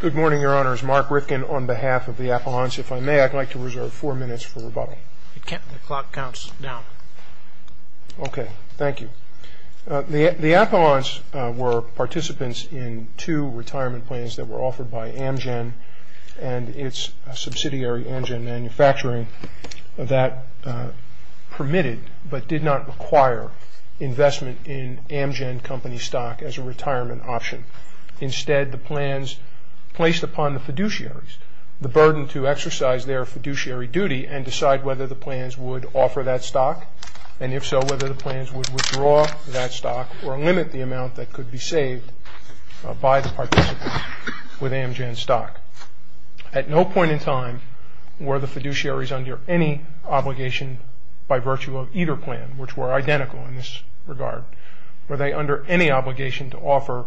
Good morning, Your Honors. Mark Rifkin on behalf of the Appellants. If I may, I'd like to reserve four minutes for rebuttal. The clock counts down. Okay. Thank you. The Appellants were participants in two retirement plans that were offered by Amgen and its subsidiary, Amgen Manufacturing, that permitted but did not require investment in Amgen Company stock as a retirement option. Instead, the plans placed upon the fiduciaries the burden to exercise their fiduciary duty and decide whether the plans would offer that stock, and if so whether the plans would withdraw that stock or limit the amount that could be saved by the participant with Amgen stock. At no point in time were the fiduciaries under any obligation by virtue of either plan, which were identical in this regard, were they under any obligation to offer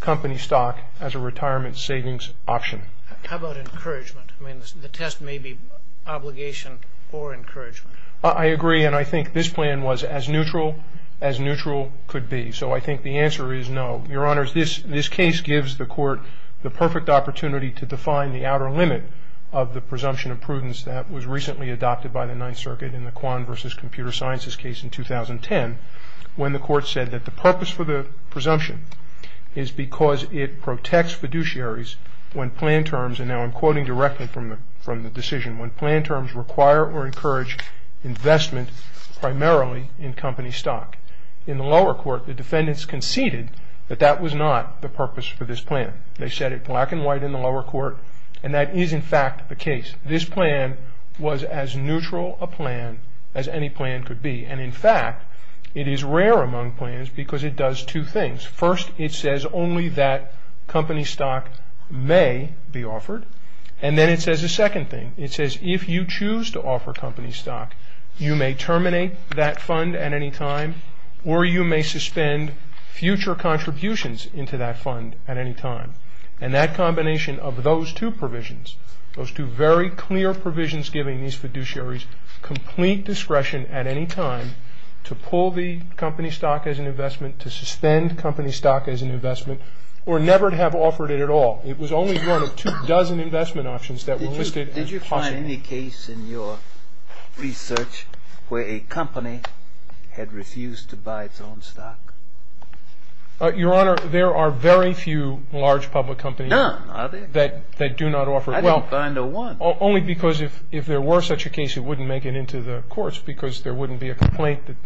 company stock as a retirement savings option. How about encouragement? I mean, the test may be obligation or encouragement. I agree, and I think this plan was as neutral as neutral could be. So I think the answer is no. Your Honors, this case gives the Court the perfect opportunity to define the outer limit of the presumption of prudence that was recently adopted by the Ninth Circuit in the Kwan v. Computer Sciences case in 2010 when the Court said that the purpose for the presumption is because it protects fiduciaries when plan terms, and now I'm quoting directly from the decision, when plan terms require or encourage investment primarily in company stock. In the lower court, the defendants conceded that that was not the purpose for this plan. They said it black and white in the lower court, and that is in fact the case. This plan was as neutral a plan as any plan could be, and in fact it is rare among plans because it does two things. First, it says only that company stock may be offered, and then it says a second thing. It says if you choose to offer company stock, you may terminate that fund at any time or you may suspend future contributions into that fund at any time, and that combination of those two provisions, those two very clear provisions giving these fiduciaries complete discretion at any time to pull the company stock as an investment, to suspend company stock as an investment, or never to have offered it at all. It was only one of two dozen investment options that were listed as possible. Did you find any case in your research where a company had refused to buy its own stock? Your Honor, there are very few large public companies that do not offer it. I didn't find a one. Only because if there were such a case, it wouldn't make it into the courts because there wouldn't be a complaint that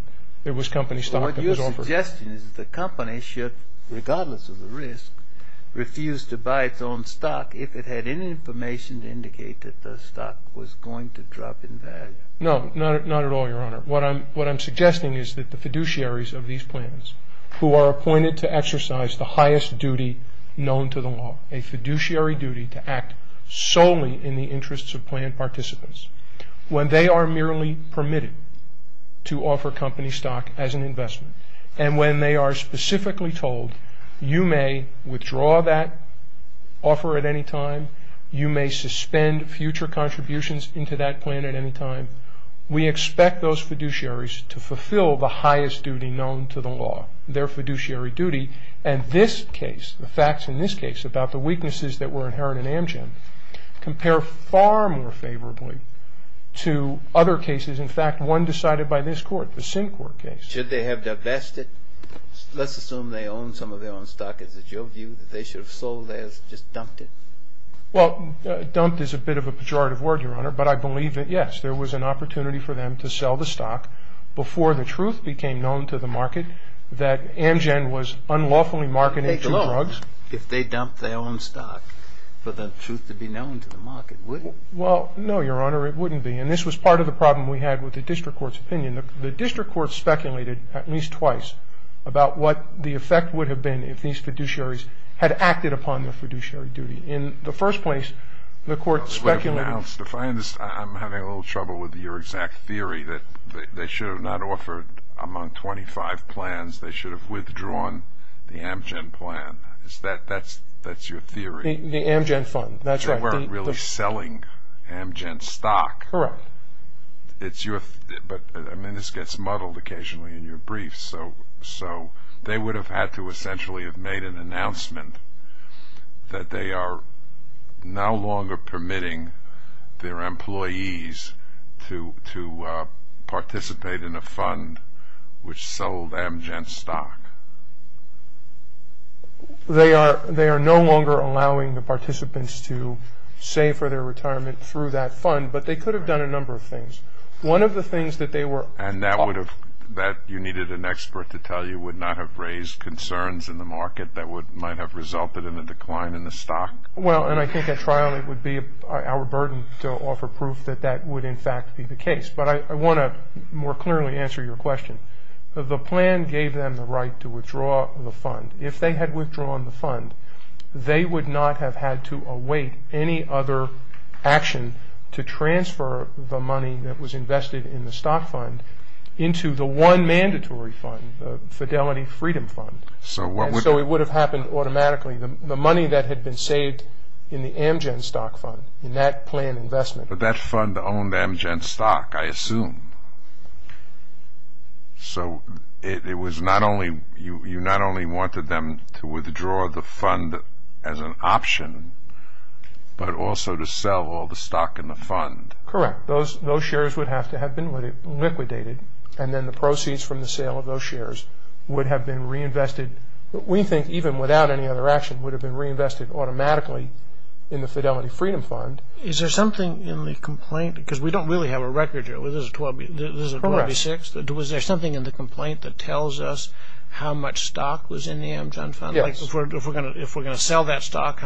it was company stock that was offered. What you're suggesting is the company should, regardless of the risk, refuse to buy its own stock if it had any information to indicate that the stock was going to drop in value. No, not at all, Your Honor. What I'm suggesting is that the fiduciaries of these plans who are appointed to exercise the highest duty known to the law, a fiduciary duty to act solely in the interests of plan participants, when they are merely permitted to offer company stock as an investment, and when they are specifically told you may withdraw that offer at any time, you may suspend future contributions into that plan at any time, we expect those fiduciaries to fulfill the highest duty known to the law, their fiduciary duty. And this case, the facts in this case about the weaknesses that were inherent in Amgen, compare far more favorably to other cases. In fact, one decided by this court, the Syncourt case. Should they have divested? Let's assume they own some of their own stock. Is it your view that they should have sold theirs, just dumped it? Well, dumped is a bit of a pejorative word, Your Honor, but I believe that, yes, there was an opportunity for them to sell the stock before the truth became known to the market that Amgen was unlawfully marketing to drugs. If they dumped their own stock for the truth to be known to the market, would it? Well, no, Your Honor, it wouldn't be. And this was part of the problem we had with the district court's opinion. The district court speculated at least twice about what the effect would have been if these fiduciaries had acted upon their fiduciary duty. In the first place, the court speculated. If I understand, I'm having a little trouble with your exact theory that they should have not offered among 25 plans, they should have withdrawn the Amgen plan. That's your theory? The Amgen fund, that's right. They weren't really selling Amgen stock. Correct. But, I mean, this gets muddled occasionally in your briefs, so they would have had to essentially have made an announcement that they are no longer permitting their employees to participate in a fund which sold Amgen stock. They are no longer allowing the participants to save for their retirement through that fund, but they could have done a number of things. One of the things that they were... And that you needed an expert to tell you would not have raised concerns in the market that might have resulted in a decline in the stock. Well, and I think at trial it would be our burden to offer proof that that would in fact be the case. But I want to more clearly answer your question. The plan gave them the right to withdraw the fund. If they had withdrawn the fund, they would not have had to await any other action to transfer the money that was invested in the stock fund into the one mandatory fund, the Fidelity Freedom Fund. And so it would have happened automatically. The money that had been saved in the Amgen stock fund, in that plan investment... But that fund owned Amgen stock, I assume. So you not only wanted them to withdraw the fund as an option, but also to sell all the stock in the fund. Correct. Those shares would have to have been liquidated, and then the proceeds from the sale of those shares would have been reinvested. We think even without any other action, it would have been reinvested automatically in the Fidelity Freedom Fund. Is there something in the complaint? Because we don't really have a record here. This is a 12-B6. Was there something in the complaint that tells us how much stock was in the Amgen fund? Yes. If we're going to sell that stock,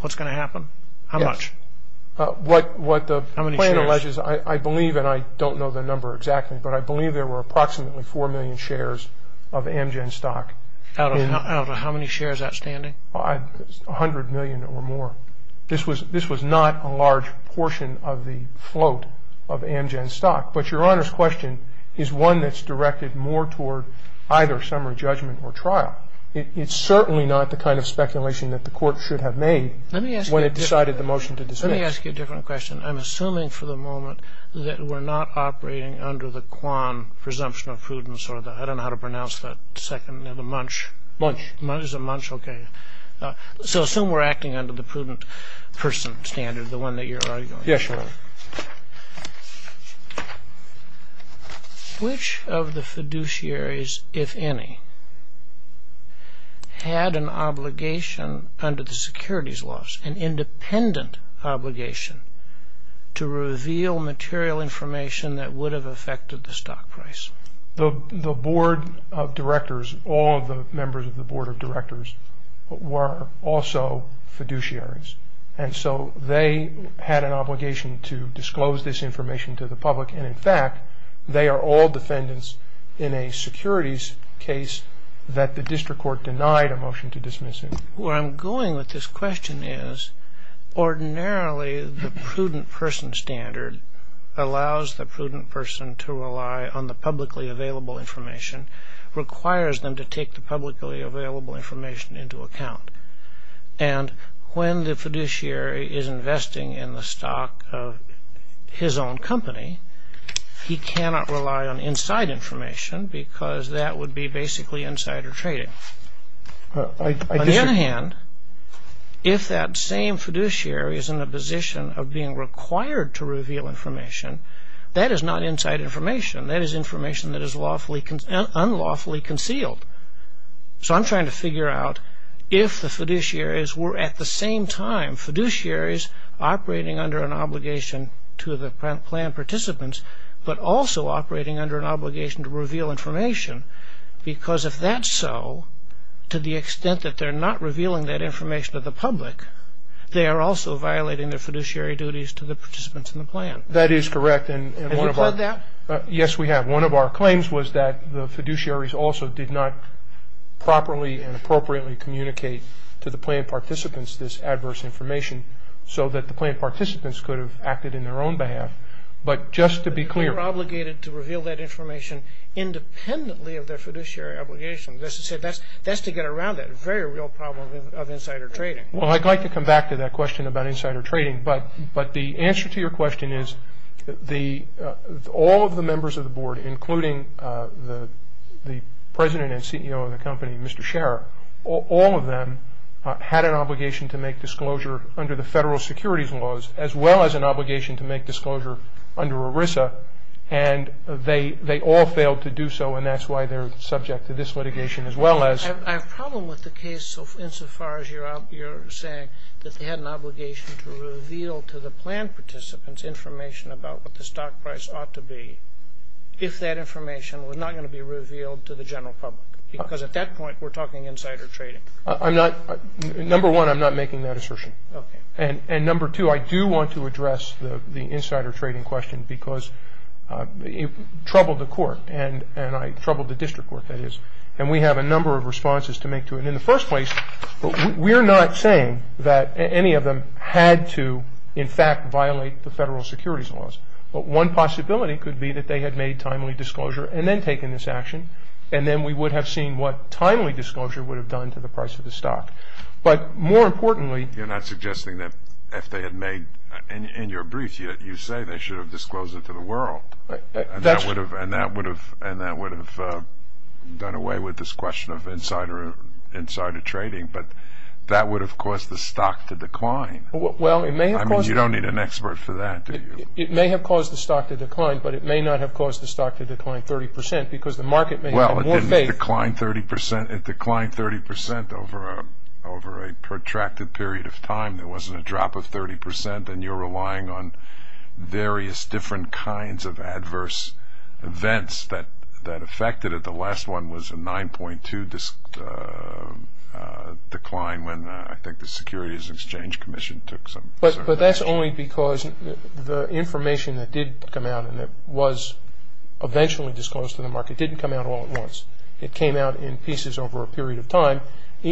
what's going to happen? How much? What the plan alleges, I believe, and I don't know the number exactly, but I believe there were approximately 4 million shares of Amgen stock. Out of how many shares outstanding? 100 million or more. This was not a large portion of the float of Amgen stock. But Your Honor's question is one that's directed more toward either summary judgment or trial. It's certainly not the kind of speculation that the court should have made... Let me ask you a different question. I'm assuming for the moment that we're not operating under the Kwan presumption of prudence. I don't know how to pronounce that second, the munch. Munch. Is it munch? Okay. So assume we're acting under the prudent person standard, the one that you're arguing. Yes, Your Honor. Which of the fiduciaries, if any, had an obligation under the securities laws, an independent obligation, to reveal material information that would have affected the stock price? The board of directors, all the members of the board of directors, were also fiduciaries. And so they had an obligation to disclose this information to the public. And in fact, they are all defendants in a securities case that the district court denied a motion to dismiss him. Where I'm going with this question is, ordinarily the prudent person standard allows the prudent person to rely on the publicly available information, requires them to take the publicly available information into account. And when the fiduciary is investing in the stock of his own company, he cannot rely on inside information because that would be basically insider trading. On the other hand, if that same fiduciary is in a position of being required to reveal information, that is not inside information. That is information that is unlawfully concealed. So I'm trying to figure out if the fiduciaries were at the same time fiduciaries operating under an obligation to the planned participants, but also operating under an obligation to reveal information. Because if that's so, to the extent that they're not revealing that information to the public, they are also violating their fiduciary duties to the participants in the plan. That is correct. Have you pled that? Yes, we have. One of our claims was that the fiduciaries also did not properly and appropriately communicate to the planned participants this adverse information, so that the planned participants could have acted in their own behalf. But just to be clear. They were obligated to reveal that information independently of their fiduciary obligation. That's to get around that very real problem of insider trading. Well, I'd like to come back to that question about insider trading, but the answer to your question is all of the members of the board, including the president and CEO of the company, Mr. Scherer, all of them had an obligation to make disclosure under the federal securities laws, as well as an obligation to make disclosure under ERISA, and they all failed to do so, and that's why they're subject to this litigation as well as... I have a problem with the case insofar as you're saying that they had an obligation to reveal to the planned participants information about what the stock price ought to be, if that information was not going to be revealed to the general public. Because at that point, we're talking insider trading. Number one, I'm not making that assertion. Okay. And number two, I do want to address the insider trading question, because it troubled the court, and I troubled the district court, that is, and we have a number of responses to make to it. In the first place, we're not saying that any of them had to, in fact, violate the federal securities laws, but one possibility could be that they had made timely disclosure and then taken this action, and then we would have seen what timely disclosure would have done to the price of the stock. But more importantly... You're not suggesting that if they had made, in your brief, you say they should have disclosed it to the world, and that would have done away with this question of insider trading, but that would have caused the stock to decline. Well, it may have caused... I mean, you don't need an expert for that, do you? It may have caused the stock to decline, but it may not have caused the stock to decline 30%, because the market may have had more faith... There wasn't a drop of 30%, and you're relying on various different kinds of adverse events that affected it. The last one was a 9.2 decline when I think the Securities Exchange Commission took some action. But that's only because the information that did come out and that was eventually disclosed to the market didn't come out all at once. It came out in pieces over a period of time. But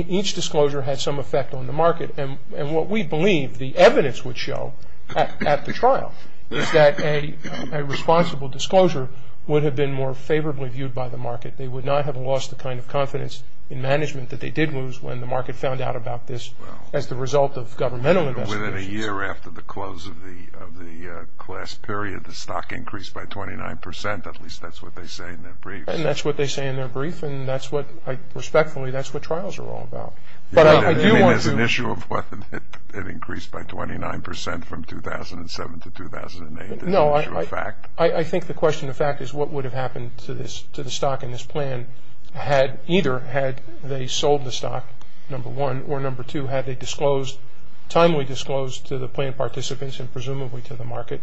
each disclosure had some effect on the market, and what we believe the evidence would show at the trial is that a responsible disclosure would have been more favorably viewed by the market. They would not have lost the kind of confidence in management that they did lose when the market found out about this as the result of governmental investigations. Within a year after the close of the class period, the stock increased by 29%. At least that's what they say in their brief. And that's what they say in their brief, and respectfully, that's what trials are all about. But I do want to... You mean there's an issue of whether it increased by 29% from 2007 to 2008? No, I think the question of fact is what would have happened to the stock in this plan either had they sold the stock, number one, or number two, had they disclosed, timely disclosed to the plaintiff participants and presumably to the market,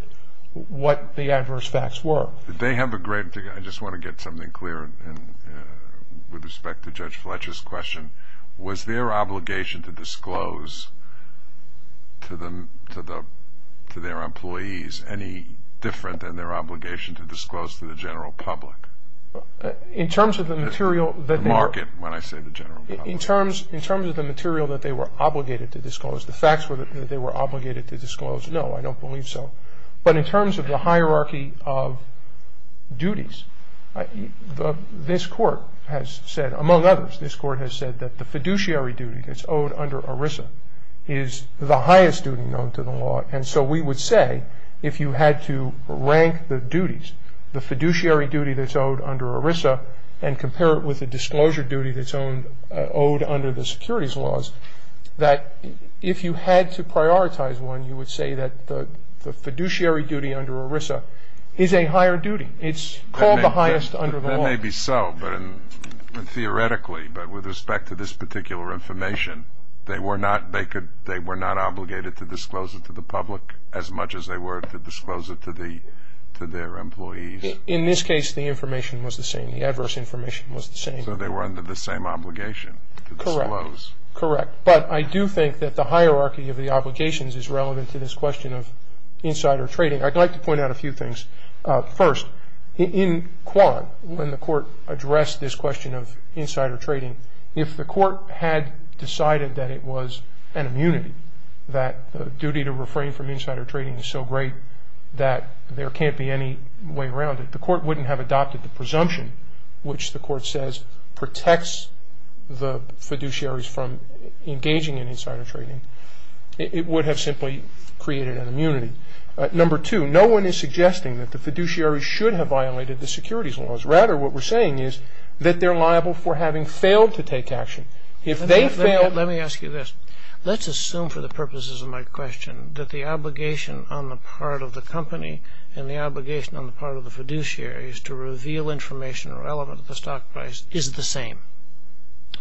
what the adverse facts were. They have a great... I just want to get something clear with respect to Judge Fletcher's question. Was their obligation to disclose to their employees any different than their obligation to disclose to the general public? In terms of the material... The market, when I say the general public. In terms of the material that they were obligated to disclose, the facts that they were obligated to disclose, no, I don't believe so. But in terms of the hierarchy of duties, this court has said, among others, this court has said that the fiduciary duty that's owed under ERISA is the highest duty known to the law. And so we would say if you had to rank the duties, the fiduciary duty that's owed under ERISA and compare it with the disclosure duty that's owed under the securities laws, that if you had to prioritize one, you would say that the fiduciary duty under ERISA is a higher duty. It's called the highest under the law. That may be so. But theoretically, but with respect to this particular information, they were not obligated to disclose it to the public as much as they were to disclose it to their employees. In this case, the information was the same. The adverse information was the same. So they were under the same obligation to disclose. Correct. But I do think that the hierarchy of the obligations is relevant to this question of insider trading. I'd like to point out a few things. First, in Quan, when the court addressed this question of insider trading, if the court had decided that it was an immunity, that the duty to refrain from insider trading is so great that there can't be any way around it, the court wouldn't have adopted the presumption, which the court says protects the fiduciaries from engaging in insider trading. It would have simply created an immunity. Number two, no one is suggesting that the fiduciaries should have violated the securities laws. Rather, what we're saying is that they're liable for having failed to take action. Let me ask you this. Let's assume for the purposes of my question that the obligation on the part of the company and the obligation on the part of the fiduciaries to reveal information relevant to the stock price is the same.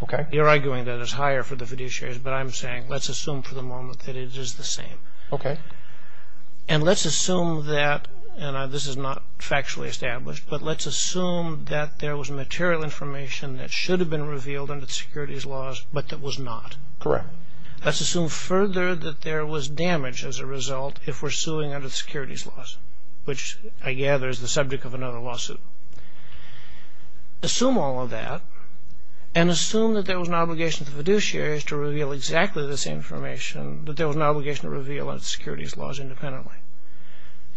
Okay. You're arguing that it's higher for the fiduciaries, but I'm saying let's assume for the moment that it is the same. Okay. And let's assume that, and this is not factually established, but let's assume that there was material information that should have been revealed under the securities laws, but that was not. Correct. Let's assume further that there was damage as a result if we're suing under the securities laws, which I gather is the subject of another lawsuit. Assume all of that and assume that there was an obligation to the fiduciaries to reveal exactly the same information that there was an obligation to reveal under the securities laws independently.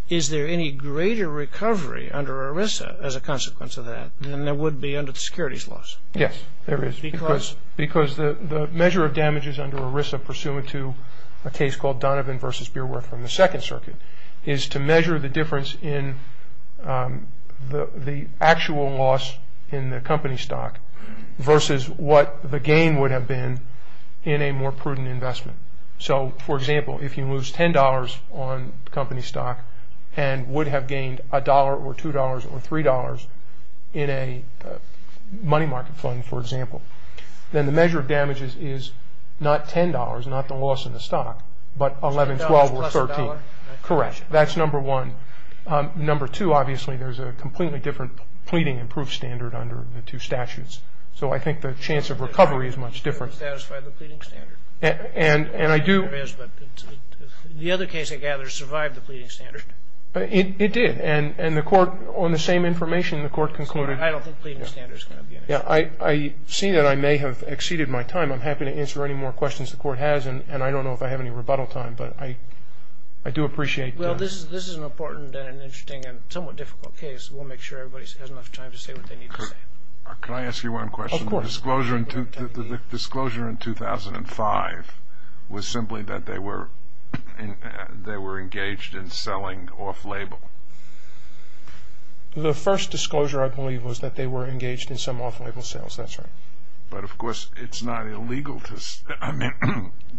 Is there any greater recovery under ERISA as a consequence of that than there would be under the securities laws? Yes, there is. Because? Because the measure of damages under ERISA pursuant to a case called Donovan v. Beerworth from the Second Circuit is to measure the difference in the actual loss in the company stock versus what the gain would have been in a more prudent investment. So, for example, if you lose $10 on company stock and would have gained $1 or $2 or $3 in a money market fund, for example, then the measure of damages is not $10, not the loss in the stock, but $11, $12, or $13. $10 plus $1? Correct. That's number one. Number two, obviously, there's a completely different pleading and proof standard under the two statutes. So I think the chance of recovery is much different. You didn't satisfy the pleading standard. And I do. The other case, I gather, survived the pleading standard. It did. And the Court, on the same information, the Court concluded. I don't think pleading standard is going to be an issue. I see that I may have exceeded my time. I'm happy to answer any more questions the Court has, and I don't know if I have any rebuttal time, but I do appreciate this. Well, this is an important and interesting and somewhat difficult case. We'll make sure everybody has enough time to say what they need to say. Can I ask you one question? Of course. The disclosure in 2005 was simply that they were engaged in selling off-label. The first disclosure, I believe, was that they were engaged in some off-label sales. That's right. But, of course, it's not illegal.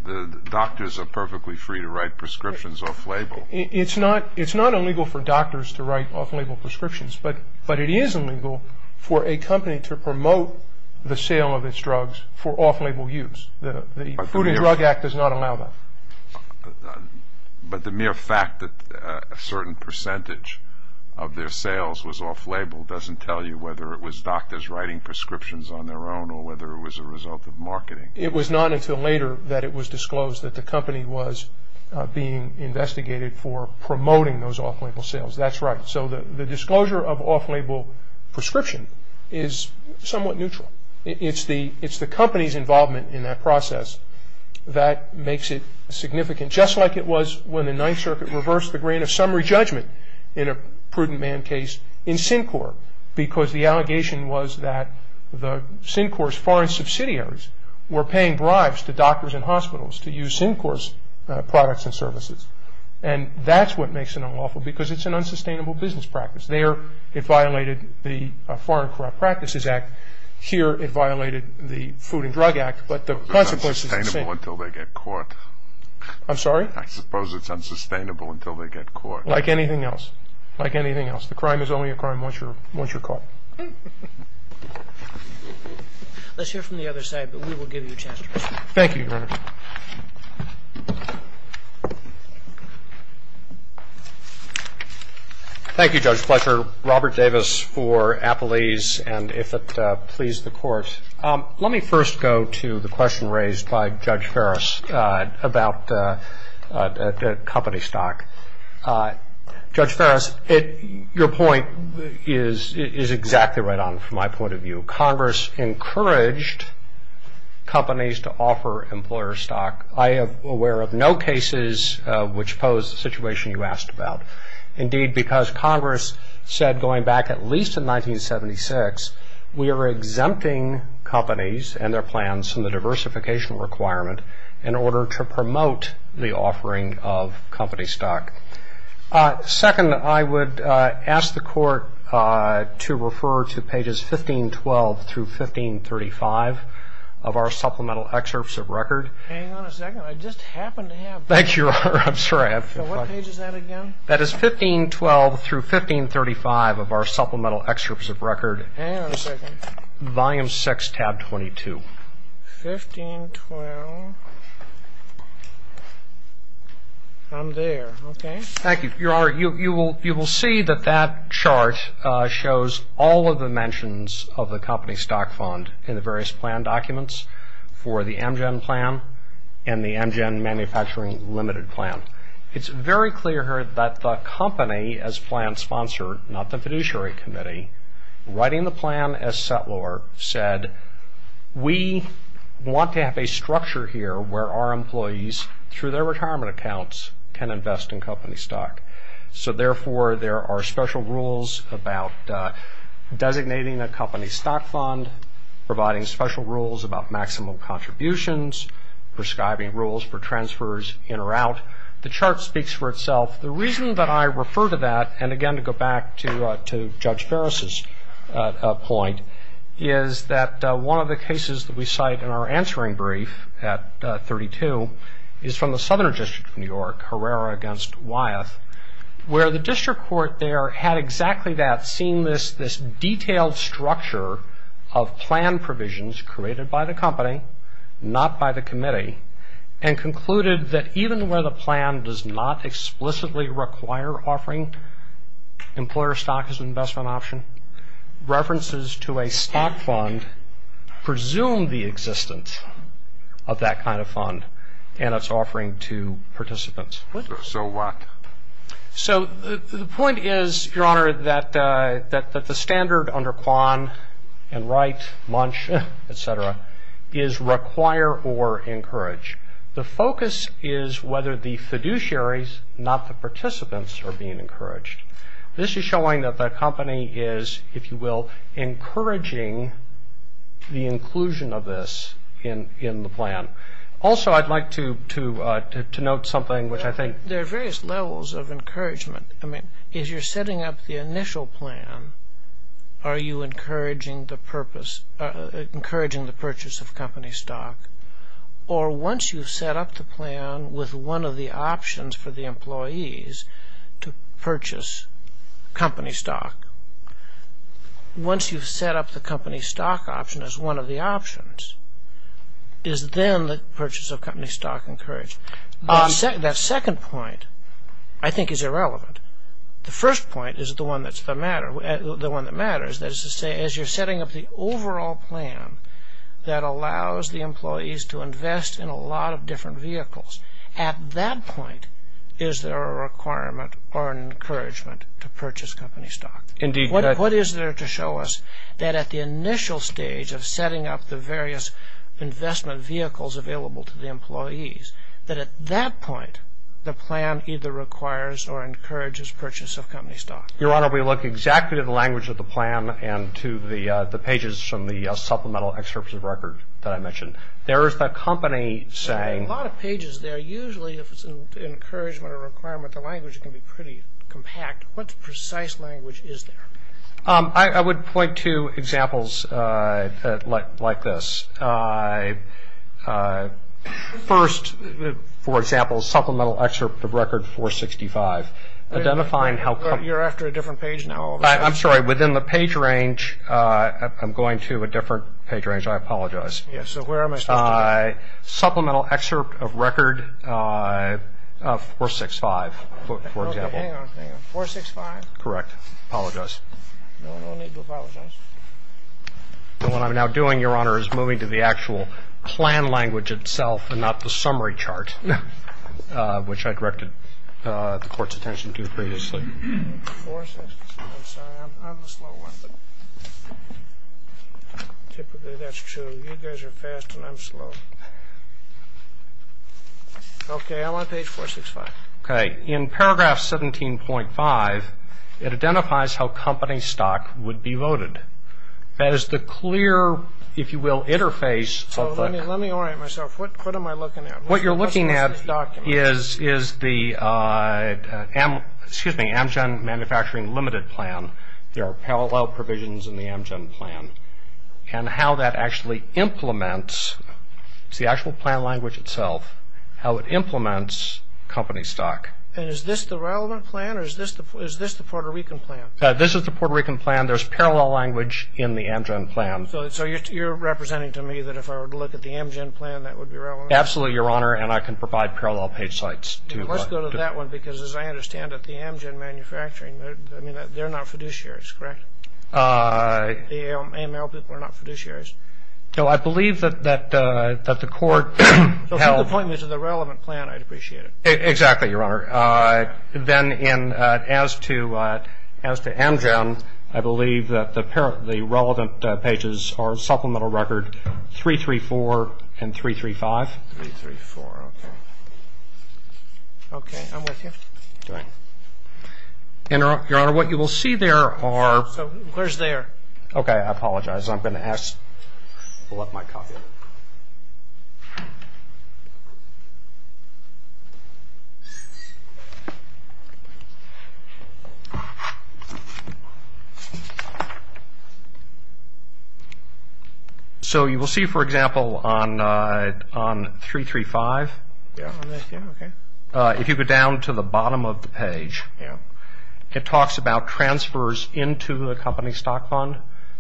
The doctors are perfectly free to write prescriptions off-label. It's not illegal for doctors to write off-label prescriptions, but it is illegal for a company to promote the sale of its drugs for off-label use. The Food and Drug Act does not allow that. But the mere fact that a certain percentage of their sales was off-label doesn't tell you whether it was doctors writing prescriptions on their own or whether it was a result of marketing. It was not until later that it was disclosed that the company was being investigated for promoting those off-label sales. That's right. So the disclosure of off-label prescription is somewhat neutral. It's the company's involvement in that process that makes it significant, just like it was when the Ninth Circuit reversed the grant of summary judgment in a prudent man case in Syncor, because the allegation was that the Syncor's foreign subsidiaries were paying bribes to doctors and hospitals to use Syncor's products and services. And that's what makes it unlawful, because it's an unsustainable business practice. There it violated the Foreign Corrupt Practices Act. Here it violated the Food and Drug Act. But the consequences are the same. It's unsustainable until they get caught. I'm sorry? I suppose it's unsustainable until they get caught. Like anything else. Like anything else. The crime is only a crime once you're caught. Let's hear from the other side, but we will give you a chance to respond. Thank you, Your Honor. Thank you, Judge Fletcher. Robert Davis for Appalese, and if it pleases the Court. Let me first go to the question raised by Judge Ferris about company stock. Judge Ferris, your point is exactly right on from my point of view. Congress encouraged companies to offer employer stock. I am aware of no cases which pose the situation you asked about. Indeed, because Congress said going back at least to 1976, we are exempting companies and their plans from the diversification requirement in order to promote the offering of company stock. Second, I would ask the Court to refer to pages 1512 through 1535 of our supplemental excerpts of record. Hang on a second. I just happen to have. Thank you, Your Honor. I'm sorry. I have. What page is that again? That is 1512 through 1535 of our supplemental excerpts of record. Hang on a second. Volume 6, tab 22. 1512. I'm there. Okay. Thank you. Your Honor, you will see that that chart shows all of the mentions of the company stock fund in the various plan documents for the Amgen Plan and the Amgen Manufacturing Limited Plan. It's very clear here that the company as plan sponsor, not the fiduciary committee, writing the plan as settlor said, we want to have a structure here where our employees, through their retirement accounts, can invest in company stock. So, therefore, there are special rules about designating a company stock fund, providing special rules about maximum contributions, prescribing rules for transfers in or out. The chart speaks for itself. The reason that I refer to that, and, again, to go back to Judge Ferris' point, is that one of the cases that we cite in our answering brief at 32 is from the Southern District of New York, Herrera v. Wyeth, where the district court there had exactly that, seen this detailed structure of plan provisions created by the company, not by the committee, and concluded that even where the plan does not explicitly require offering employer stock as an investment option, references to a stock fund presume the existence of that kind of fund and its offering to participants. So what? So the point is, Your Honor, that the standard under Kwan and Wright, Munch, et cetera, is require or encourage. The focus is whether the fiduciaries, not the participants, are being encouraged. This is showing that the company is, if you will, encouraging the inclusion of this in the plan. Also, I'd like to note something, which I think- There are various levels of encouragement. I mean, if you're setting up the initial plan, are you encouraging the purchase of company stock? Or once you've set up the plan with one of the options for the employees to purchase company stock, once you've set up the company stock option as one of the options, is then the purchase of company stock encouraged? That second point, I think, is irrelevant. The first point is the one that matters, that is to say, as you're setting up the overall plan that allows the employees to invest in a lot of different vehicles, at that point is there a requirement or an encouragement to purchase company stock? Indeed. What is there to show us that at the initial stage of setting up the various investment vehicles available to the employees, that at that point the plan either requires or encourages purchase of company stock? Your Honor, we look exactly at the language of the plan and to the pages from the supplemental excerpt of the record that I mentioned. There is the company saying- There are a lot of pages there. Usually, if it's an encouragement or a requirement, the language can be pretty compact. What precise language is there? I would point to examples like this. First, for example, supplemental excerpt of record 465, identifying how- You're after a different page now all of a sudden. I'm sorry. Within the page range, I'm going to a different page range. I apologize. Yes. So where am I supposed to go? Supplemental excerpt of record 465, for example. Okay. Hang on, hang on. 465? Correct. I apologize. No, no need to apologize. What I'm now doing, Your Honor, is moving to the actual plan language itself and not the summary chart, which I directed the Court's attention to previously. 465. I'm sorry. I'm the slow one. Typically, that's true. You guys are fast and I'm slow. Okay. I'm on page 465. Okay. In paragraph 17.5, it identifies how company stock would be voted. That is the clear, if you will, interface of the- So let me orient myself. What am I looking at? What you're looking at is the Amgen Manufacturing Limited Plan. There are parallel provisions in the Amgen Plan. And how that actually implements, it's the actual plan language itself, how it implements company stock. And is this the relevant plan or is this the Puerto Rican plan? This is the Puerto Rican plan. There's parallel language in the Amgen Plan. So you're representing to me that if I were to look at the Amgen Plan, that would be relevant? Absolutely, Your Honor, and I can provide parallel page sites. Let's go to that one because, as I understand it, the Amgen Manufacturing, they're not fiduciaries, correct? The AML people are not fiduciaries. No, I believe that the court held- So if you could point me to the relevant plan, I'd appreciate it. Exactly, Your Honor. Then as to Amgen, I believe that the relevant pages are Supplemental Record 334 and 335. 334, okay. Okay, I'm with you. And, Your Honor, what you will see there are- So where's there? Okay, I apologize. I'm going to pull up my copy of it. So you will see, for example, on 335- Oh, on this, yeah, okay. If you go down to the bottom of the page, it talks about transfers into the company stock fund.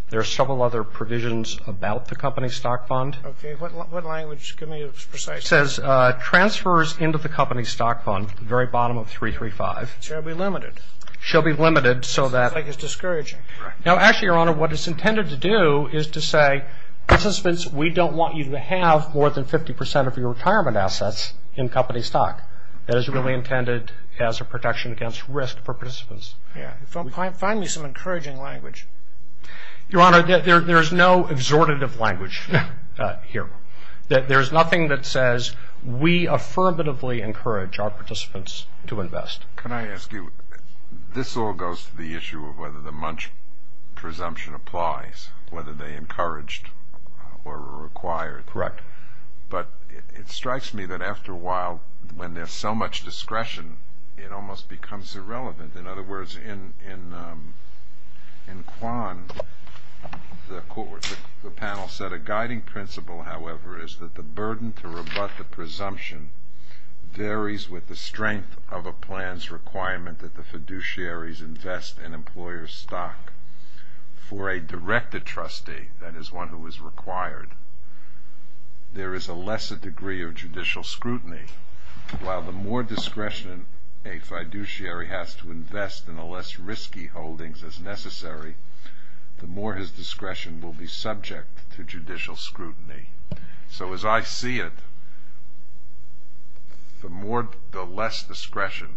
There are several other provisions about the company stock fund. Okay. What language? Give me a precise- It says, transfers into the company stock fund at the very bottom of 335- Shall be limited. Shall be limited so that- Seems like it's discouraging. Now, actually, Your Honor, what it's intended to do is to say, participants, we don't want you to have more than 50% of your retirement assets in company stock. That is really intended as a protection against risk for participants. Find me some encouraging language. Your Honor, there's no exhortative language here. There's nothing that says we affirmatively encourage our participants to invest. Can I ask you, this all goes to the issue of whether the Munch presumption applies, whether they encouraged or required. Correct. But it strikes me that after a while, when there's so much discretion, it almost becomes irrelevant. In other words, in Kwan, the panel said a guiding principle, however, is that the burden to rebut the presumption varies with the strength of a plan's requirement that the fiduciaries invest in employer stock. For a directed trustee, that is one who is required, there is a lesser degree of judicial scrutiny. While the more discretion a fiduciary has to invest in the less risky holdings as necessary, the more his discretion will be subject to judicial scrutiny. So as I see it, the less discretion,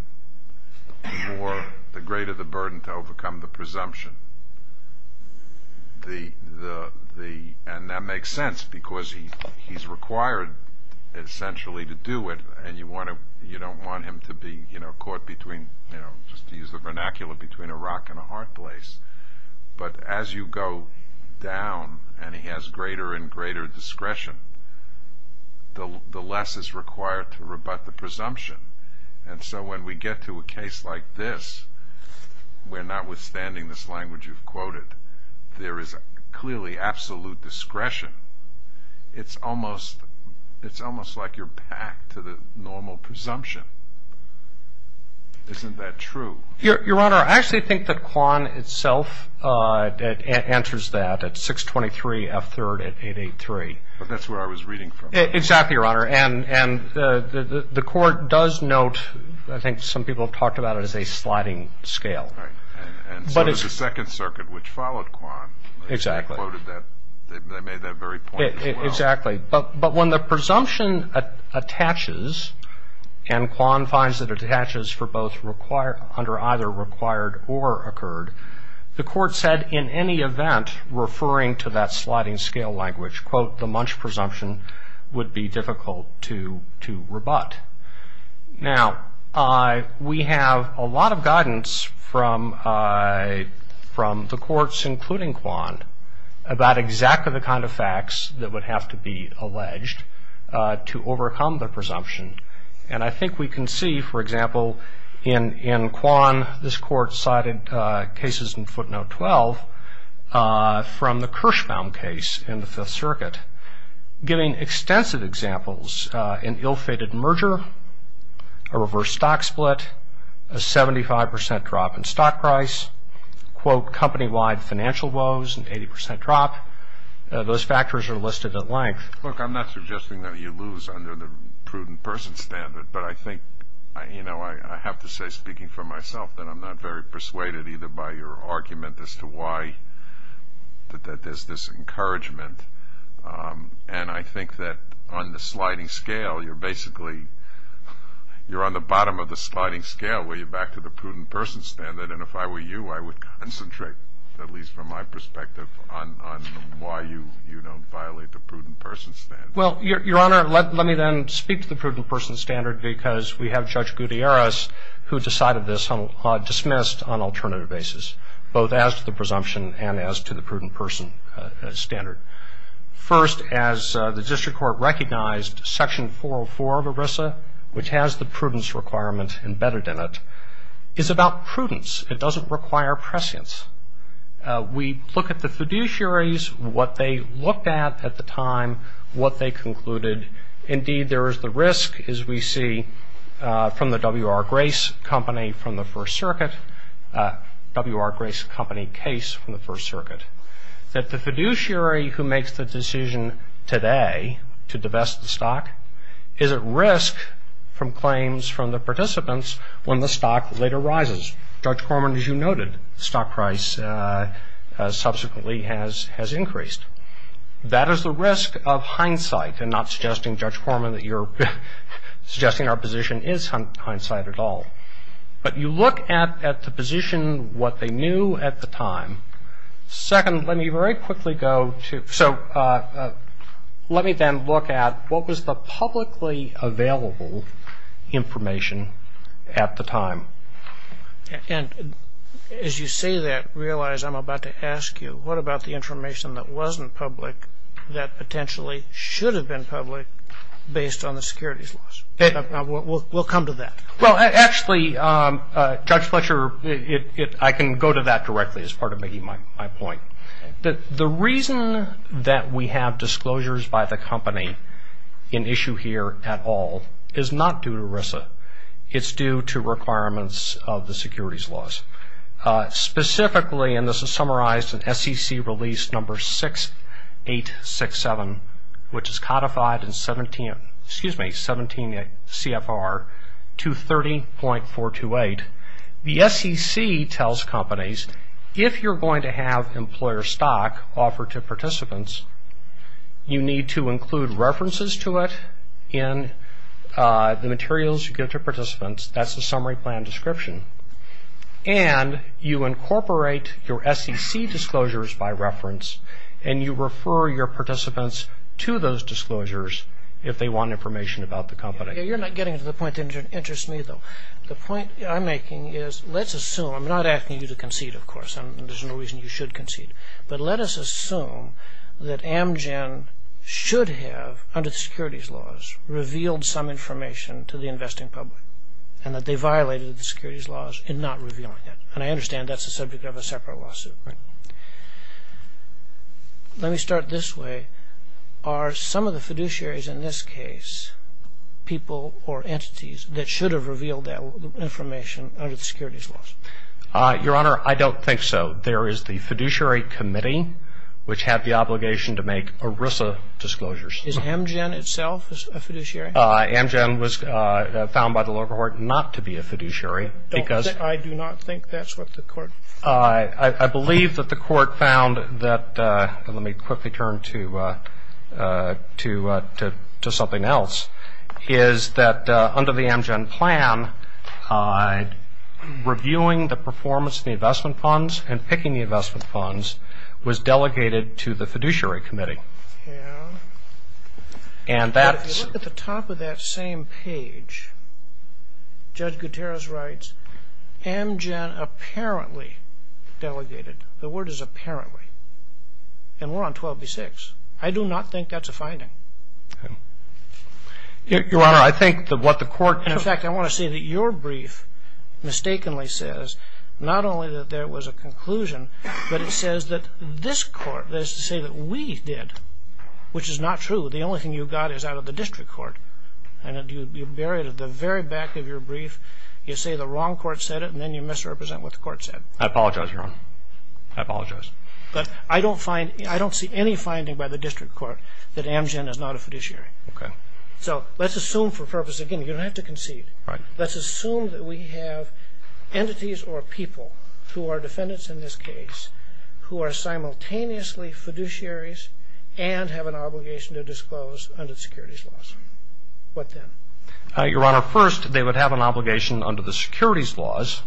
the greater the burden to overcome the presumption. And that makes sense because he's required essentially to do it, and you don't want him to be caught between, just to use the vernacular, between a rock and a hard place. But as you go down and he has greater and greater discretion, the less is required to rebut the presumption. And so when we get to a case like this, where notwithstanding this language you've quoted, there is clearly absolute discretion. It's almost like you're back to the normal presumption. Isn't that true? Your Honor, I actually think that Kwan itself answers that at 623 F3rd at 883. But that's where I was reading from. Exactly, Your Honor. And the Court does note, I think some people have talked about it as a sliding scale. Right. And so does the Second Circuit, which followed Kwan. Exactly. They made that very point as well. Exactly. But when the presumption attaches, and Kwan finds that it attaches under either required or occurred, the Court said in any event referring to that sliding scale language, quote, the Munch presumption would be difficult to rebut. Now, we have a lot of guidance from the Courts, including Kwan, about exactly the kind of facts that would have to be alleged to overcome the presumption. And I think we can see, for example, in Kwan, this Court cited cases in footnote 12 from the Kirschbaum case in the Fifth Circuit, giving extensive examples, an ill-fated merger, a reverse stock split, a 75% drop in stock price, quote, company-wide financial woes, an 80% drop. Those factors are listed at length. Look, I'm not suggesting that you lose under the prudent person standard, but I think, you know, I have to say, speaking for myself, that I'm not very persuaded either by your argument as to why there's this encouragement. And I think that on the sliding scale, you're basically on the bottom of the sliding scale where you're back to the prudent person standard. And if I were you, I would concentrate, at least from my perspective, on why you don't violate the prudent person standard. Well, Your Honor, let me then speak to the prudent person standard because we have Judge Gutierrez, who decided this, dismissed on an alternative basis, both as to the presumption and as to the prudent person standard. First, as the District Court recognized, Section 404 of ERISA, which has the prudence requirement embedded in it, is about prudence. It doesn't require prescience. We look at the fiduciaries, what they looked at at the time, what they concluded. Indeed, there is the risk, as we see from the W.R. Grace Company from the First Circuit, W.R. Grace Company case from the First Circuit, that the fiduciary who makes the decision today to divest the stock is at risk from claims from the participants when the stock later rises. Judge Corman, as you noted, stock price subsequently has increased. That is the risk of hindsight, and not suggesting, Judge Corman, that you're suggesting our position is hindsight at all. But you look at the position, what they knew at the time, and you can see how much of a risk it is. And so that's the first thing. Second, let me very quickly go to – so let me then look at what was the publicly available information at the time. And as you say that, realize I'm about to ask you, what about the information that wasn't public that potentially should have been public based on the securities laws? We'll come to that. Well, actually, Judge Fletcher, I can go to that directly as part of making my point. The reason that we have disclosures by the company in issue here at all is not due to RISA. It's due to requirements of the securities laws. Specifically, and this is summarized in SEC release number 6867, which is codified in 17 – excuse me, 17 CFR 230.428. The SEC tells companies if you're going to have employer stock offered to participants, you need to include references to it in the materials you give to participants. That's the summary plan description. And you incorporate your SEC disclosures by reference, and you refer your participants to those disclosures if they want information about the company. You're not getting to the point that interests me, though. The point I'm making is let's assume – I'm not asking you to concede, of course, and there's no reason you should concede – but let us assume that Amgen should have, under the securities laws, revealed some information to the investing public and that they violated the securities laws in not revealing it. And I understand that's the subject of a separate lawsuit, right? Let me start this way. Are some of the fiduciaries in this case people or entities that should have revealed that information under the securities laws? Your Honor, I don't think so. There is the fiduciary committee, which had the obligation to make ERISA disclosures. Is Amgen itself a fiduciary? Amgen was found by the lower court not to be a fiduciary because – I do not think that's what the court found. I believe that the court found that – let me quickly turn to something else – is that under the Amgen plan, reviewing the performance of the investment funds and picking the investment funds was delegated to the fiduciary committee. Yeah. But if you look at the top of that same page, Judge Gutierrez writes, Amgen apparently delegated. The word is apparently. And we're on 12b-6. I do not think that's a finding. Your Honor, I think that what the court – And, in fact, I want to say that your brief mistakenly says not only that there was a conclusion, but it says that this court, that is to say that we did, which is not true. The only thing you got is out of the district court. And you bury it at the very back of your brief. You say the wrong court said it, and then you misrepresent what the court said. I apologize, Your Honor. I apologize. But I don't find – I don't see any finding by the district court that Amgen is not a fiduciary. Okay. So let's assume for purpose – again, you don't have to concede. Right. Let's assume that we have entities or people who are defendants in this case who are simultaneously fiduciaries and have an obligation to disclose under the securities laws. What then? Your Honor, first, they would have an obligation under the securities laws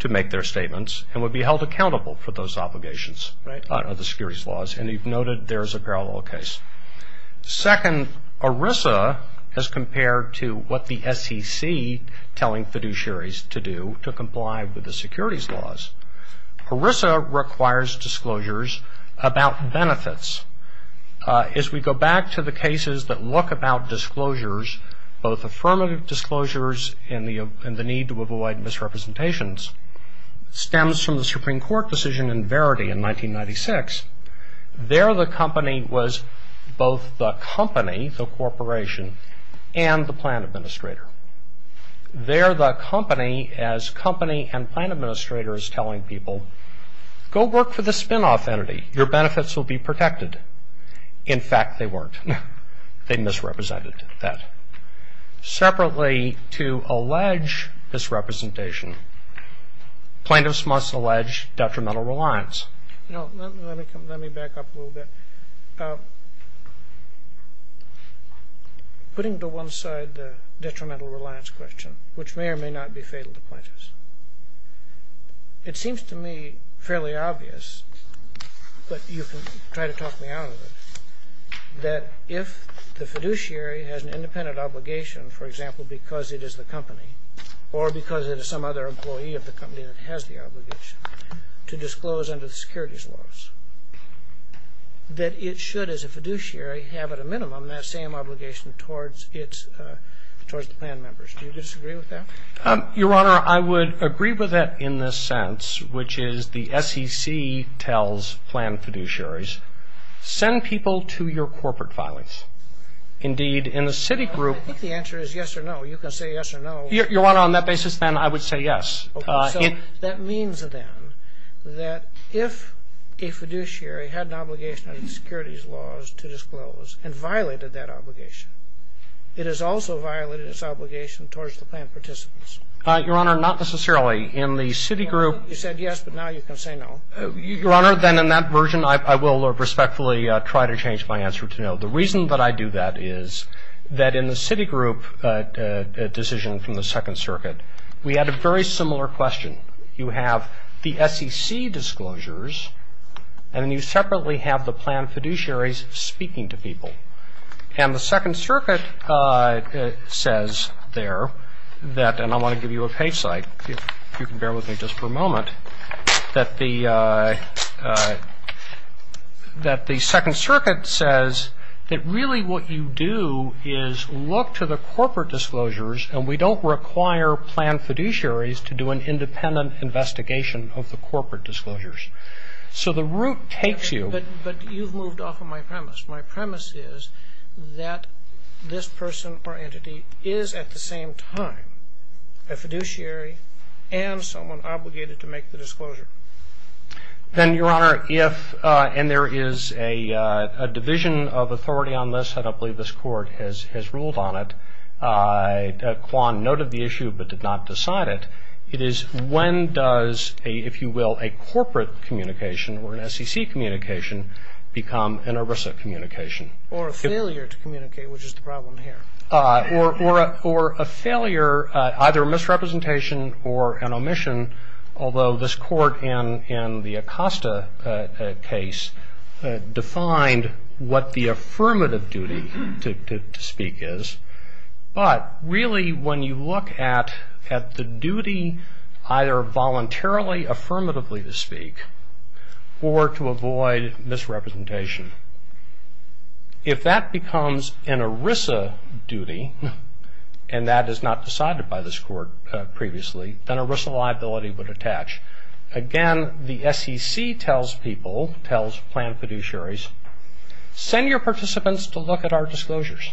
to make their statements and would be held accountable for those obligations under the securities laws. And you've noted there's a parallel case. Second, ERISA, as compared to what the SEC telling fiduciaries to do to comply with the securities laws, ERISA requires disclosures about benefits. As we go back to the cases that look about disclosures, both affirmative disclosures and the need to avoid misrepresentations, stems from the Supreme Court decision in Verity in 1996. There the company was both the company, the corporation, and the plan administrator. There the company, as company and plan administrator, is telling people, go work for the spinoff entity. Your benefits will be protected. In fact, they weren't. They misrepresented that. Separately, to allege misrepresentation, plaintiffs must allege detrimental reliance. Let me back up a little bit. Putting to one side the detrimental reliance question, which may or may not be fatal to plaintiffs, it seems to me fairly obvious, but you can try to talk me out of it, that if the fiduciary has an independent obligation, for example, because it is the company or because it is some other employee of the company that has the obligation, to disclose under the securities laws, that it should, as a fiduciary, have at a minimum that same obligation towards the plan members. Do you disagree with that? Your Honor, I would agree with that in the sense, which is the SEC tells plan fiduciaries, send people to your corporate filings. Indeed, in the Citigroup. I think the answer is yes or no. You can say yes or no. Your Honor, on that basis, then, I would say yes. That means, then, that if a fiduciary had an obligation under the securities laws to disclose and violated that obligation, it has also violated its obligation towards the plan participants. Your Honor, not necessarily. In the Citigroup. You said yes, but now you can say no. Your Honor, then, in that version, I will respectfully try to change my answer to no. The reason that I do that is that in the Citigroup decision from the Second Circuit, we had a very similar question. You have the SEC disclosures, and then you separately have the plan fiduciaries speaking to people. And the Second Circuit says there that, and I want to give you a page slide, if you can bear with me just for a moment, that the Second Circuit says that really what you do is look to the corporate disclosures, and we don't require plan fiduciaries to do an independent investigation of the corporate disclosures. So the route takes you. But you've moved off of my premise. My premise is that this person or entity is at the same time a fiduciary and someone obligated to make the disclosure. Then, Your Honor, if, and there is a division of authority on this, I don't believe this Court has ruled on it. Quan noted the issue but did not decide it. It is when does, if you will, a corporate communication or an SEC communication become an ERISA communication. Or a failure to communicate, which is the problem here. Or a failure, either a misrepresentation or an omission, although this Court in the Acosta case defined what the affirmative duty to speak is. But really when you look at the duty either voluntarily, affirmatively to speak, or to avoid misrepresentation, if that becomes an ERISA duty, and that is not decided by this Court previously, then ERISA liability would attach. Again, the SEC tells people, tells planned fiduciaries, send your participants to look at our disclosures.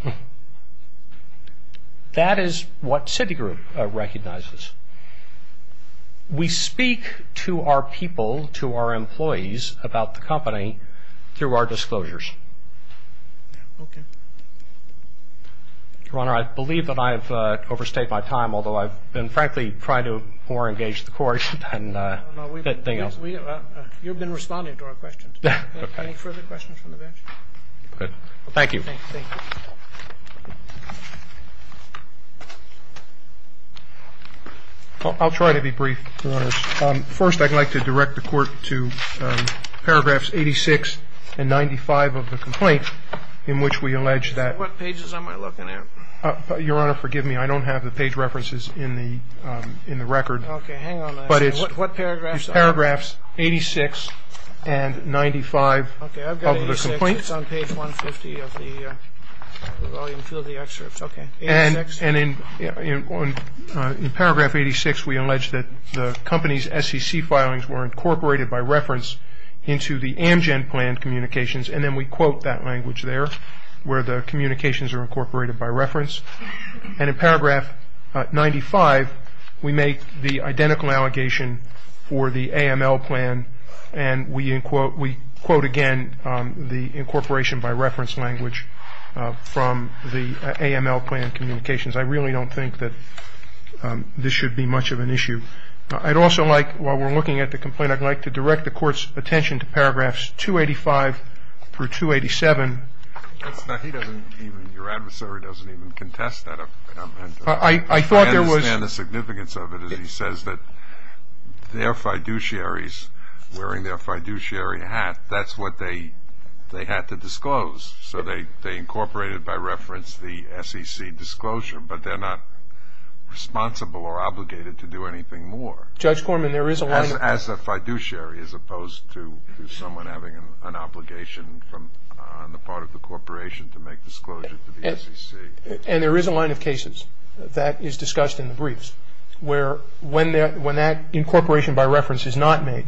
That is what Citigroup recognizes. We speak to our people, to our employees, about the company through our disclosures. Your Honor, I believe that I have overstayed my time, although I have been frankly trying to more engage the Court than anything else. You have been responding to our questions. Okay. Any further questions from the bench? Good. Thank you. Thank you. I will try to be brief, Your Honor. First, I would like to direct the Court to paragraphs 86 and 95 of the ERISA. And then I would like to direct the Court to paragraph 86 of the complaint in which we allege that What pages am I looking at? Your Honor, forgive me. I don't have the page references in the record. Okay. Hang on a second. What paragraphs are there? Paragraphs 86 and 95 of the complaint. Okay. I've got 86. It's on page 150 of the volume 2 of the excerpt. Okay. 86. And in paragraph 86, we allege that the company's SEC filings were incorporated by reference into the Amgen plan communications, and then we quote that language there where the communications are incorporated by reference. And in paragraph 95, we make the identical allegation for the AML plan, and we quote again the incorporation by reference language from the AML plan communications. I really don't think that this should be much of an issue. I'd also like, while we're looking at the complaint, I'd like to direct the Court's attention to paragraphs 285 through 287. Your adversary doesn't even contest that. I understand the significance of it. He says that their fiduciaries wearing their fiduciary hat, that's what they had to disclose. So they incorporated by reference the SEC disclosure, but they're not responsible or obligated to do anything more. Judge Corman, there is a line of cases. As a fiduciary as opposed to someone having an obligation on the part of the corporation to make disclosure to the SEC. And there is a line of cases. That is discussed in the briefs where when that incorporation by reference is not made,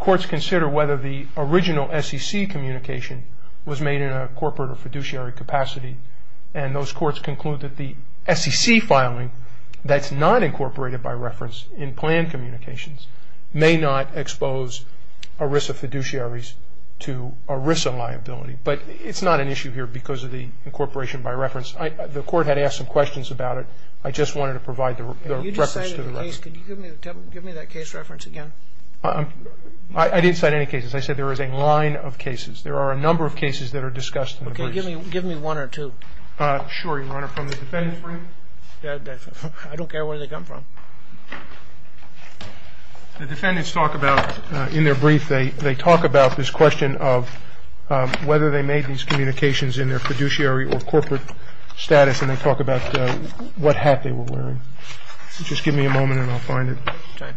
courts consider whether the original SEC communication was made in a corporate or fiduciary capacity. And those courts conclude that the SEC filing that's not incorporated by reference in plan communications may not expose ERISA fiduciaries to ERISA liability. But it's not an issue here because of the incorporation by reference. The Court had asked some questions about it. I just wanted to provide the reference to the record. You just cited a case. Can you give me that case reference again? I didn't cite any cases. I said there is a line of cases. There are a number of cases that are discussed in the briefs. Okay. Give me one or two. Sure, Your Honor. From the defendant's brief? I don't care where they come from. The defendants talk about in their brief, they talk about this question of whether they made these communications in their fiduciary or corporate status, and they talk about what hat they were wearing. Just give me a moment and I'll find it. Okay.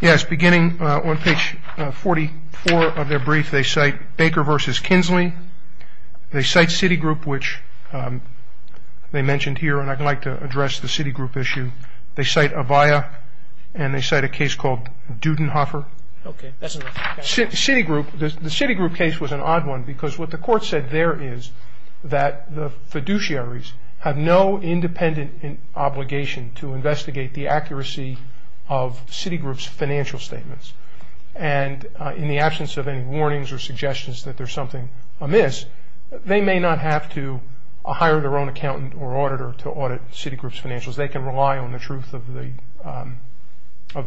Yes, beginning on page 44 of their brief, they cite Baker v. Kinsley. They cite Citigroup, which they mentioned here, and I'd like to address the Citigroup issue. They cite Avaya, and they cite a case called Dudenhoffer. Okay. That's enough. Citigroup, the Citigroup case was an odd one because what the Court said there is that the fiduciaries have no independent obligation to investigate the accuracy of Citigroup's financial statements. And in the absence of any warnings or suggestions that there's something amiss, they may not have to hire their own accountant or auditor to audit Citigroup's financials. They can rely on the truth of the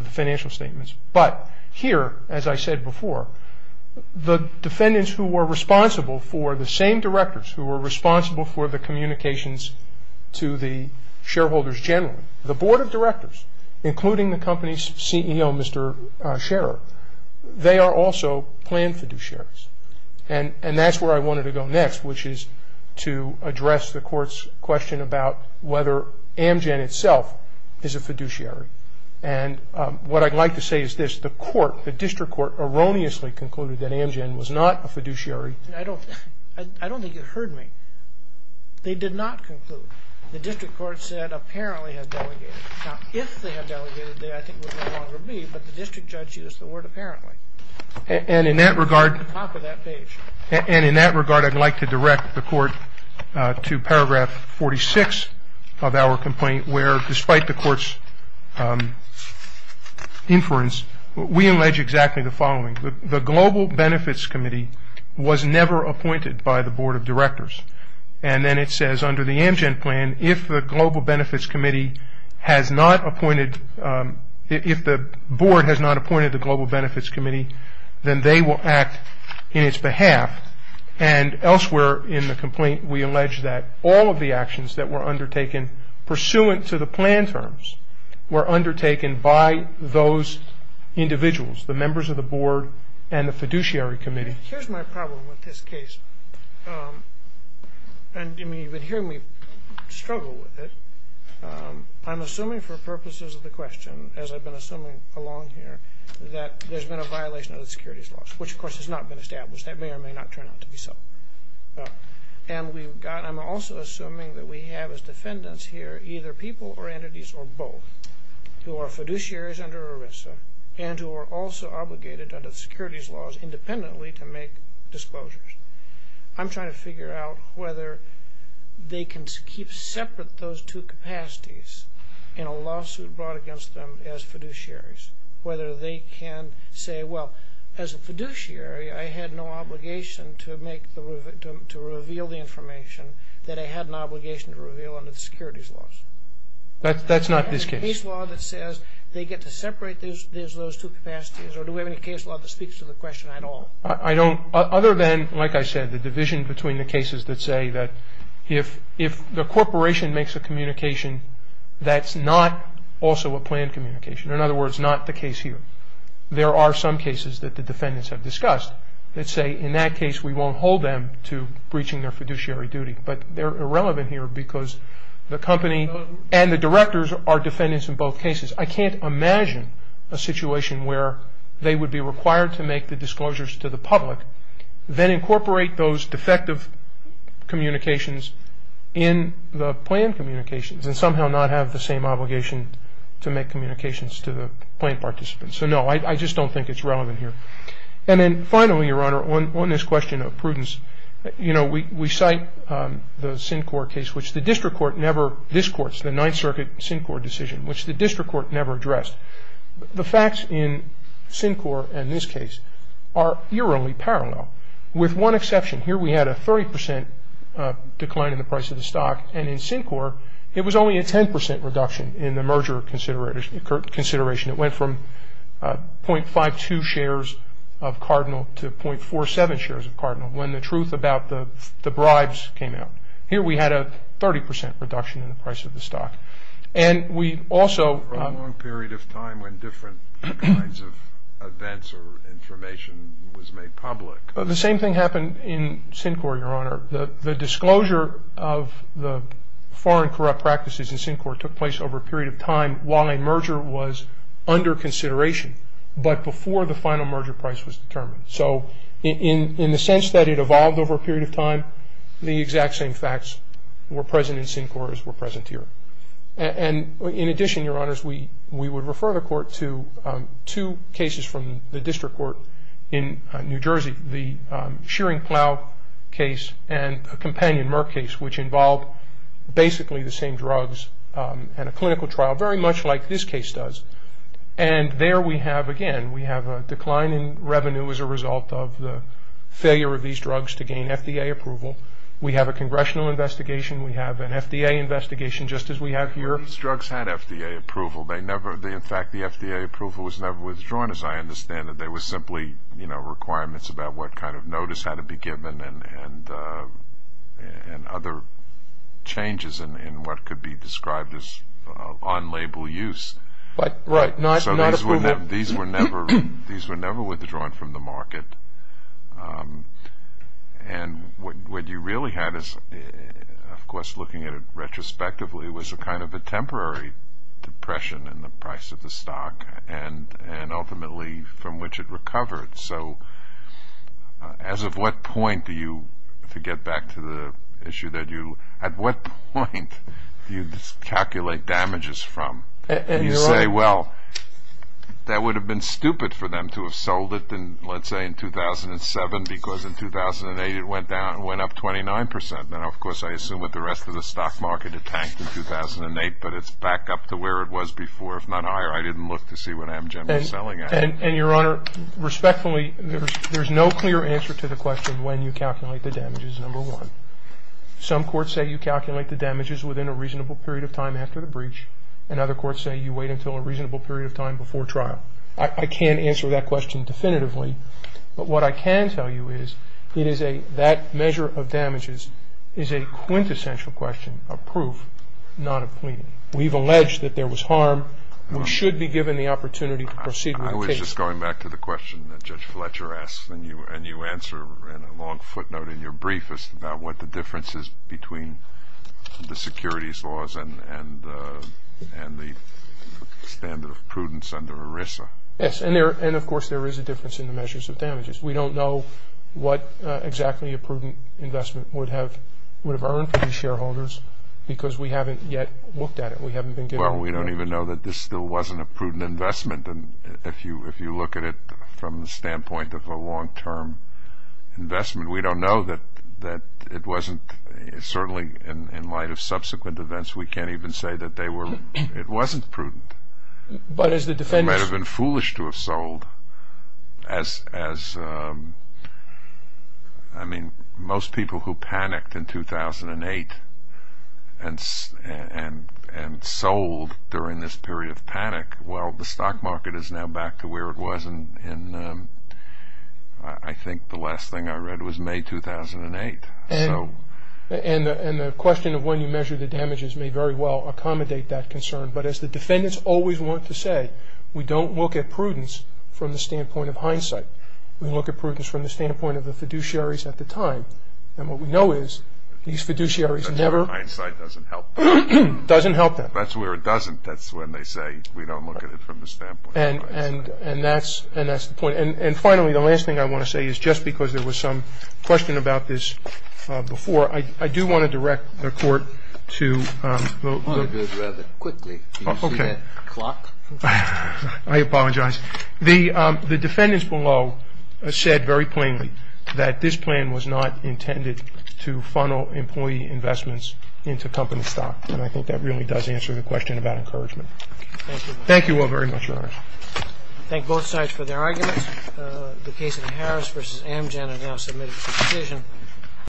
financial statements. But here, as I said before, the defendants who were responsible for the same directors, who were responsible for the communications to the shareholders generally, the Board of Directors, including the company's CEO, Mr. Scherer, they are also planned fiduciaries. And that's where I wanted to go next, which is to address the Court's question about whether Amgen itself is a fiduciary. And what I'd like to say is this. The court, the district court, erroneously concluded that Amgen was not a fiduciary. I don't think it heard me. They did not conclude. The district court said apparently had delegated. Now, if they had delegated, I think it would no longer be, but the district judge used the word apparently. And in that regard, I'd like to direct the court to paragraph 46 of our complaint, where despite the court's inference, we allege exactly the following. The Global Benefits Committee was never appointed by the Board of Directors. And then it says under the Amgen plan, if the Global Benefits Committee has not appointed, if the Board has not appointed the Global Benefits Committee, then they will act in its behalf. And elsewhere in the complaint, we allege that all of the actions that were undertaken pursuant to the plan terms were undertaken by those individuals, the members of the Board and the fiduciary committee. Here's my problem with this case. And you've been hearing me struggle with it. I'm assuming for purposes of the question, as I've been assuming along here, that there's been a violation of the securities laws, which, of course, has not been established. That may or may not turn out to be so. And I'm also assuming that we have as defendants here either people or entities or both who are fiduciaries under ERISA and who are also obligated under the securities laws independently to make disclosures. I'm trying to figure out whether they can keep separate those two capacities in a lawsuit brought against them as fiduciaries, whether they can say, well, as a fiduciary, I had no obligation to reveal the information that I had an obligation to reveal under the securities laws. That's not this case. Do we have a case law that says they get to separate those two capacities, or do we have any case law that speaks to the question at all? I don't. Other than, like I said, the division between the cases that say that if the corporation makes a communication, that's not also a planned communication. In other words, not the case here. There are some cases that the defendants have discussed that say, in that case, we won't hold them to breaching their fiduciary duty. But they're irrelevant here because the company and the directors are defendants in both cases. I can't imagine a situation where they would be required to make the disclosures to the public, then incorporate those defective communications in the planned communications and somehow not have the same obligation to make communications to the planned participants. So, no, I just don't think it's relevant here. And then, finally, Your Honor, on this question of prudence, you know, we cite the Syncor case, which the district court never ‑‑ this court's the Ninth Circuit Syncor decision, which the district court never addressed. The facts in Syncor and this case are eerily parallel, with one exception. Here we had a 30 percent decline in the price of the stock, and in Syncor it was only a 10 percent reduction in the merger consideration. It went from 0.52 shares of Cardinal to 0.47 shares of Cardinal when the truth about the bribes came out. Here we had a 30 percent reduction in the price of the stock. And we also ‑‑ For a long period of time when different kinds of events or information was made public. The same thing happened in Syncor, Your Honor. The disclosure of the foreign corrupt practices in Syncor took place over a period of time while a merger was under consideration, but before the final merger price was determined. So in the sense that it evolved over a period of time, the exact same facts were present in Syncor as were present here. And in addition, Your Honors, we would refer the court to two cases from the district court in New Jersey, the Shearing Plow case and a companion Murk case, which involved basically the same drugs and a clinical trial, very much like this case does. And there we have, again, we have a decline in revenue as a result of the failure of these drugs to gain FDA approval. We have a congressional investigation. We have an FDA investigation just as we have here. These drugs had FDA approval. In fact, the FDA approval was never withdrawn as I understand it. There were simply, you know, requirements about what kind of notice had to be given and other changes in what could be described as on-label use. Right, not approval. So these were never withdrawn from the market. And what you really had is, of course, looking at it retrospectively, was a kind of a temporary depression in the price of the stock and ultimately from which it recovered. So as of what point do you, to get back to the issue that you, at what point do you calculate damages from? You say, well, that would have been stupid for them to have sold it in, let's say, in 2007 because in 2008 it went down and went up 29 percent. Now, of course, I assume with the rest of the stock market it tanked in 2008, but it's back up to where it was before, if not higher. I didn't look to see what Amgen was selling at. And, Your Honor, respectfully, there's no clear answer to the question when you calculate the damages, number one. Some courts say you calculate the damages within a reasonable period of time after the breach, and other courts say you wait until a reasonable period of time before trial. I can't answer that question definitively, but what I can tell you is it is a, that measure of damages is a quintessential question of proof, not of pleading. We've alleged that there was harm. We should be given the opportunity to proceed with the case. I was just going back to the question that Judge Fletcher asked, and you answer in a long footnote in your brief about what the difference is between the securities laws and the standard of prudence under ERISA. Yes, and of course there is a difference in the measures of damages. We don't know what exactly a prudent investment would have earned for these shareholders because we haven't yet looked at it. Well, we don't even know that this still wasn't a prudent investment, and if you look at it from the standpoint of a long-term investment, we don't know that it wasn't, certainly in light of subsequent events, we can't even say that they were, it wasn't prudent. It might have been foolish to have sold as, I mean, most people who panicked in 2008 and sold during this period of panic, well, the stock market is now back to where it was in, I think the last thing I read was May 2008. And the question of when you measure the damages may very well accommodate that concern, but as the defendants always want to say, we don't look at prudence from the standpoint of hindsight. We look at prudence from the standpoint of the fiduciaries at the time, and what we know is these fiduciaries never... That's where hindsight doesn't help them. Doesn't help them. That's where it doesn't, that's when they say we don't look at it from the standpoint of hindsight. And that's the point. And finally, the last thing I want to say is just because there was some question about this before, I do want to direct the Court to... I want to do it rather quickly. Okay. Can you see that clock? I apologize. The defendants below said very plainly that this plan was not intended to funnel employee investments into company stock, and I think that really does answer the question about encouragement. Thank you. Thank you all very much, Your Honor. Thank both sides for their arguments. The case of Harris v. Amgen, I now submit it for decision.